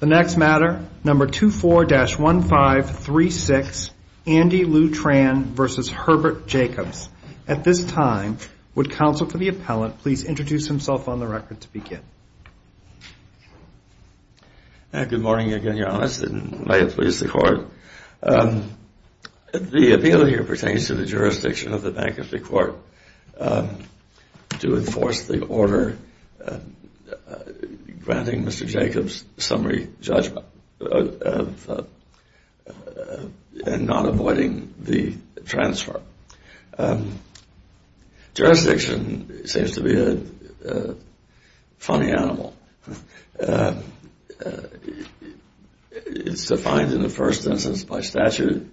The next matter, number 24-1536, Andy Lou Tran v. Herbert Jacobs. At this time, would counsel for the appellant please introduce himself on the record to begin. Good morning again, Your Honor, and may it please the court. The appeal here pertains to the jurisdiction of the Bank of New York to enforce the order granting Mr. Jacobs summary judgment and not avoiding the transfer. Jurisdiction seems to be a funny animal. It's defined in the first instance by statute,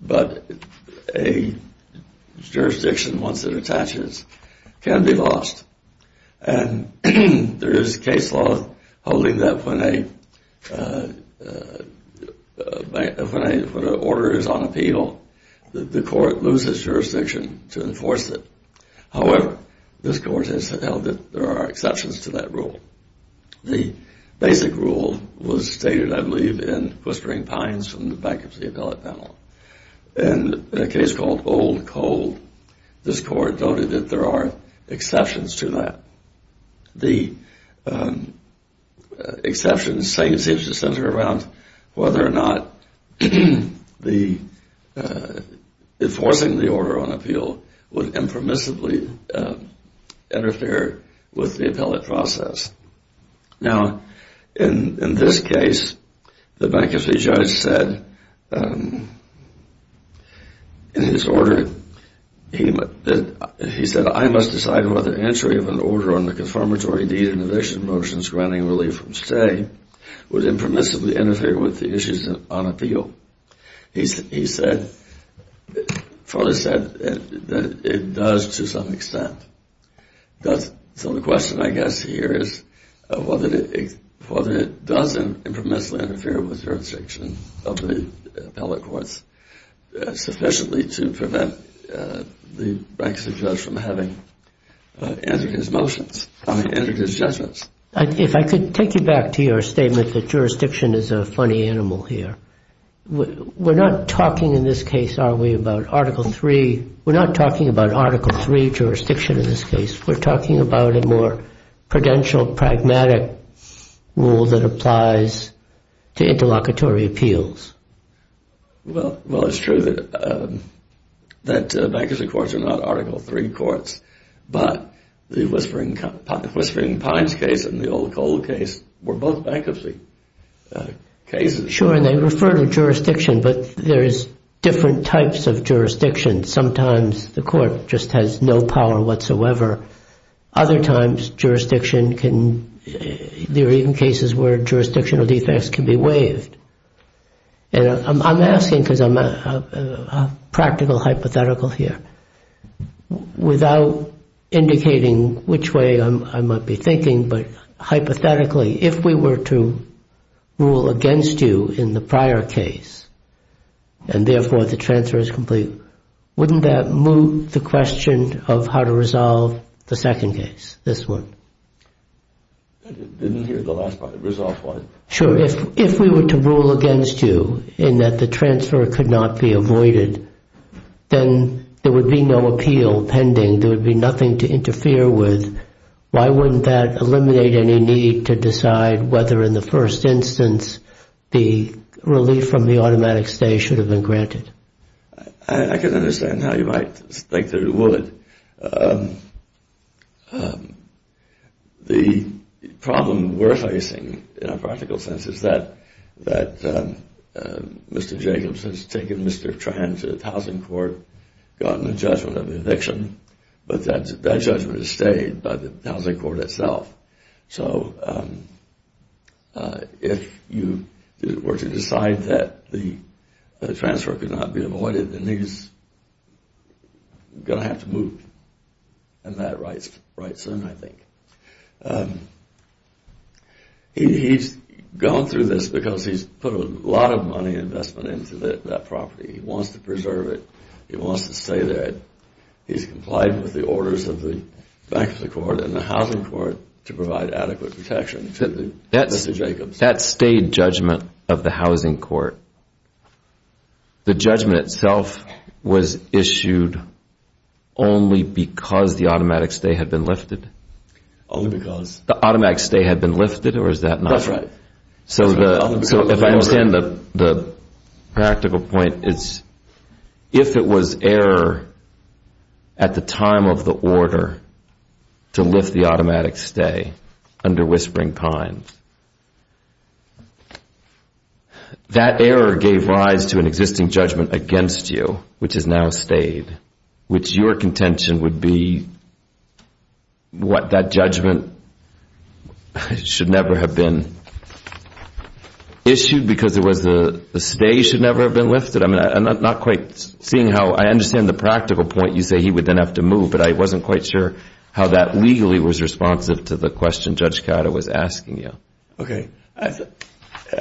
but a jurisdiction, once it attaches, can be lost. And there is case law holding that when an order is on appeal, the court loses jurisdiction to enforce it. However, this court has held that there are exceptions to that rule. The basic rule was stated, I believe, in Quistering Pines from the back of the appellate panel. In a case called Old Cold, this court noted that there are exceptions to that. The exceptions seem to center around whether or not enforcing the order on appeal would impermissibly interfere with the appellate process. Now, in this case, the bankruptcy judge said in his order, he said, I must decide whether entry of an order on the confirmatory deed and eviction motions granting relief from stay would impermissibly interfere with the issues on appeal. He further said that it does to some extent. So the question, I guess, here is whether it does impermissibly interfere with jurisdiction of the appellate courts sufficiently to prevent the bankruptcy judge from entering his judgments. If I could take you back to your statement that jurisdiction is a funny animal here. We're not talking in this case, are we, about Article III. We're not talking about Article III jurisdiction in this case. We're talking about a more prudential, pragmatic rule that applies to interlocutory appeals. Well, it's true that bankruptcy courts are not Article III courts, but the Whispering Pines case and the Old Cold case were both bankruptcy cases. Sure, and they refer to jurisdiction, but there is different types of jurisdiction. Sometimes the court just has no power whatsoever. Other times, there are even cases where jurisdictional defects can be waived. And I'm asking because I'm a practical hypothetical here, without indicating which way I might be thinking, but hypothetically, if we were to rule against you in the prior case, and therefore the transfer is complete, wouldn't that move the question of how to resolve the second case, this one? I didn't hear the last part. Resolve what? Sure, if we were to rule against you in that the transfer could not be avoided, then there would be no appeal pending. There would be nothing to interfere with. Why wouldn't that eliminate any need to decide whether in the first instance the relief from the automatic stay should have been granted? I can understand how you might think that it would. The problem we're facing in a practical sense is that Mr. Jacobs has taken Mr. Tran to the housing court, gotten a judgment of eviction, but that judgment is stayed by the housing court itself. So if you were to decide that the transfer could not be avoided, then he's going to have to move. And that writes in, I think. He's gone through this because he's put a lot of money and investment into that property. He wants to preserve it. He wants to stay there. He's complied with the orders of the bankruptcy court and the housing court to provide adequate protection. That stayed judgment of the housing court. The judgment itself was issued only because the automatic stay had been lifted? Only because. The automatic stay had been lifted, or is that not? That's right. So if I understand the practical point, it's if it was error at the time of the order to lift the automatic stay under Whispering Pines, that error gave rise to an existing judgment against you, which has now stayed, which your contention would be what that judgment should never have been. Issued because the stay should never have been lifted? I'm not quite seeing how I understand the practical point. You say he would then have to move, but I wasn't quite sure how that legally was responsive to the question Judge Cato was asking you. Okay. I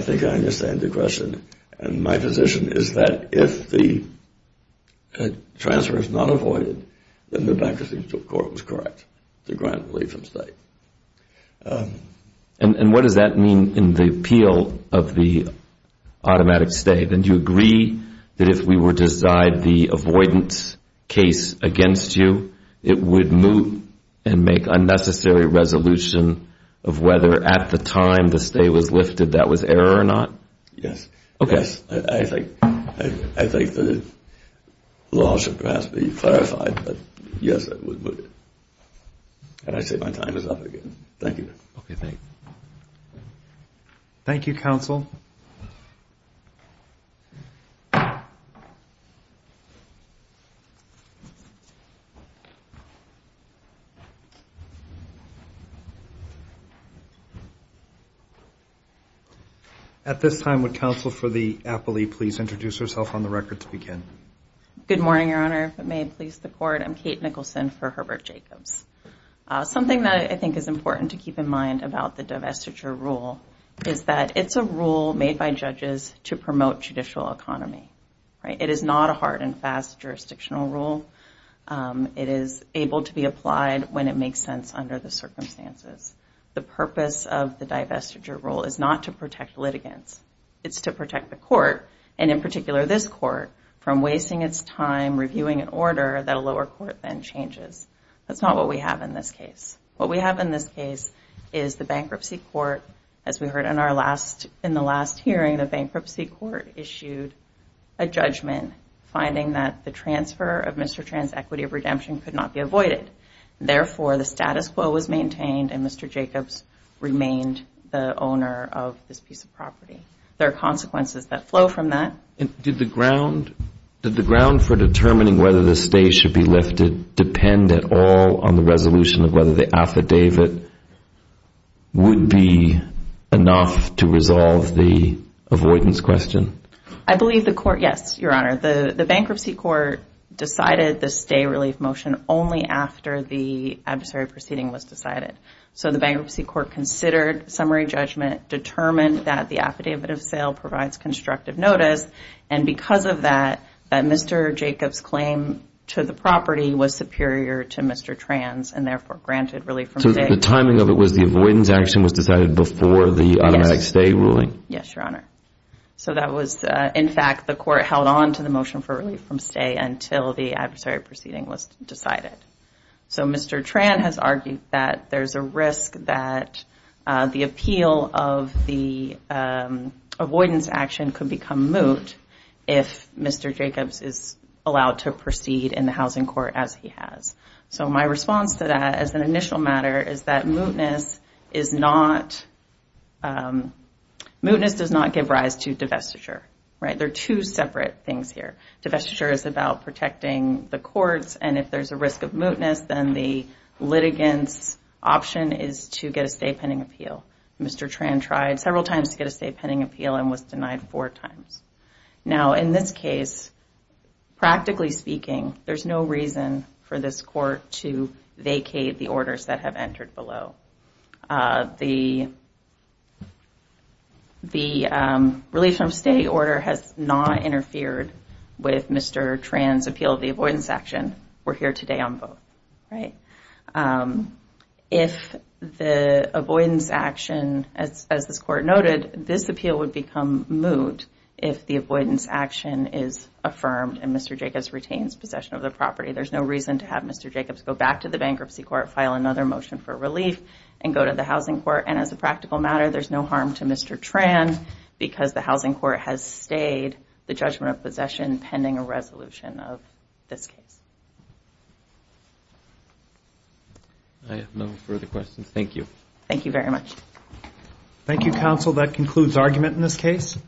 think I understand the question. And my position is that if the transfer is not avoided, then the bankruptcy court was correct to grant relief from stay. And what does that mean in the appeal of the automatic stay? Then do you agree that if we were to decide the avoidance case against you, it would move and make unnecessary resolution of whether at the time the stay was lifted that was error or not? Yes. Okay. I think the law should perhaps be clarified, but yes, it would. And I say my time is up again. Thank you. Okay. Thank you. Thank you, counsel. At this time, would counsel for the appellee please introduce herself on the record to begin? Good morning, Your Honor. If it may please the court, I'm Kate Nicholson for Herbert Jacobs. Something that I think is important to keep in mind about the divestiture rule is that it's a rule made by judges to promote judicial economy. It is not a hard and fast jurisdictional rule. It is able to be applied when it makes sense under the circumstances. The purpose of the divestiture rule is not to protect litigants. It's to protect the court, and in particular this court, from wasting its time reviewing an order that a lower court then changes. That's not what we have in this case. What we have in this case is the bankruptcy court, as we heard in the last hearing, the bankruptcy court issued a judgment finding that the transfer of Mr. Tran's equity of redemption could not be avoided. Therefore, the status quo was maintained and Mr. Jacobs remained the owner of this piece of property. There are consequences that flow from that. Did the ground for determining whether the stay should be lifted depend at all on the resolution of whether the affidavit would be enough to resolve the avoidance question? I believe the court, yes, Your Honor, the bankruptcy court decided the stay relief motion only after the adversary proceeding was decided. So the bankruptcy court considered summary judgment, determined that the affidavit of sale provides constructive notice, and because of that, Mr. Jacobs' claim to the property was superior to Mr. Tran's and therefore granted relief from stay. So the timing of it was the avoidance action was decided before the automatic stay ruling? Yes, Your Honor. So that was, in fact, the court held on to the motion for relief from stay until the adversary proceeding was decided. So Mr. Tran has argued that there's a risk that the appeal of the avoidance action could become moot if Mr. Jacobs is allowed to proceed in the housing court as he has. So my response to that as an initial matter is that mootness does not give rise to divestiture. There are two separate things here. Divestiture is about protecting the courts, and if there's a risk of mootness, then the litigant's option is to get a stay pending appeal. Mr. Tran tried several times to get a stay pending appeal and was denied four times. Now, in this case, practically speaking, there's no reason for this court to vacate the orders that have entered below. The relief from stay order has not interfered with Mr. Tran's appeal of the avoidance action. We're here today on both. If the avoidance action, as this court noted, this appeal would become moot if the avoidance action is affirmed and Mr. Jacobs retains possession of the property. There's no reason to have Mr. Jacobs go back to the bankruptcy court, file another motion for relief, and go to the housing court. And as a practical matter, there's no harm to Mr. Tran because the housing court has stayed the judgment of possession pending a resolution of this case. I have no further questions. Thank you. Thank you very much. Thank you, counsel. That concludes argument in this case.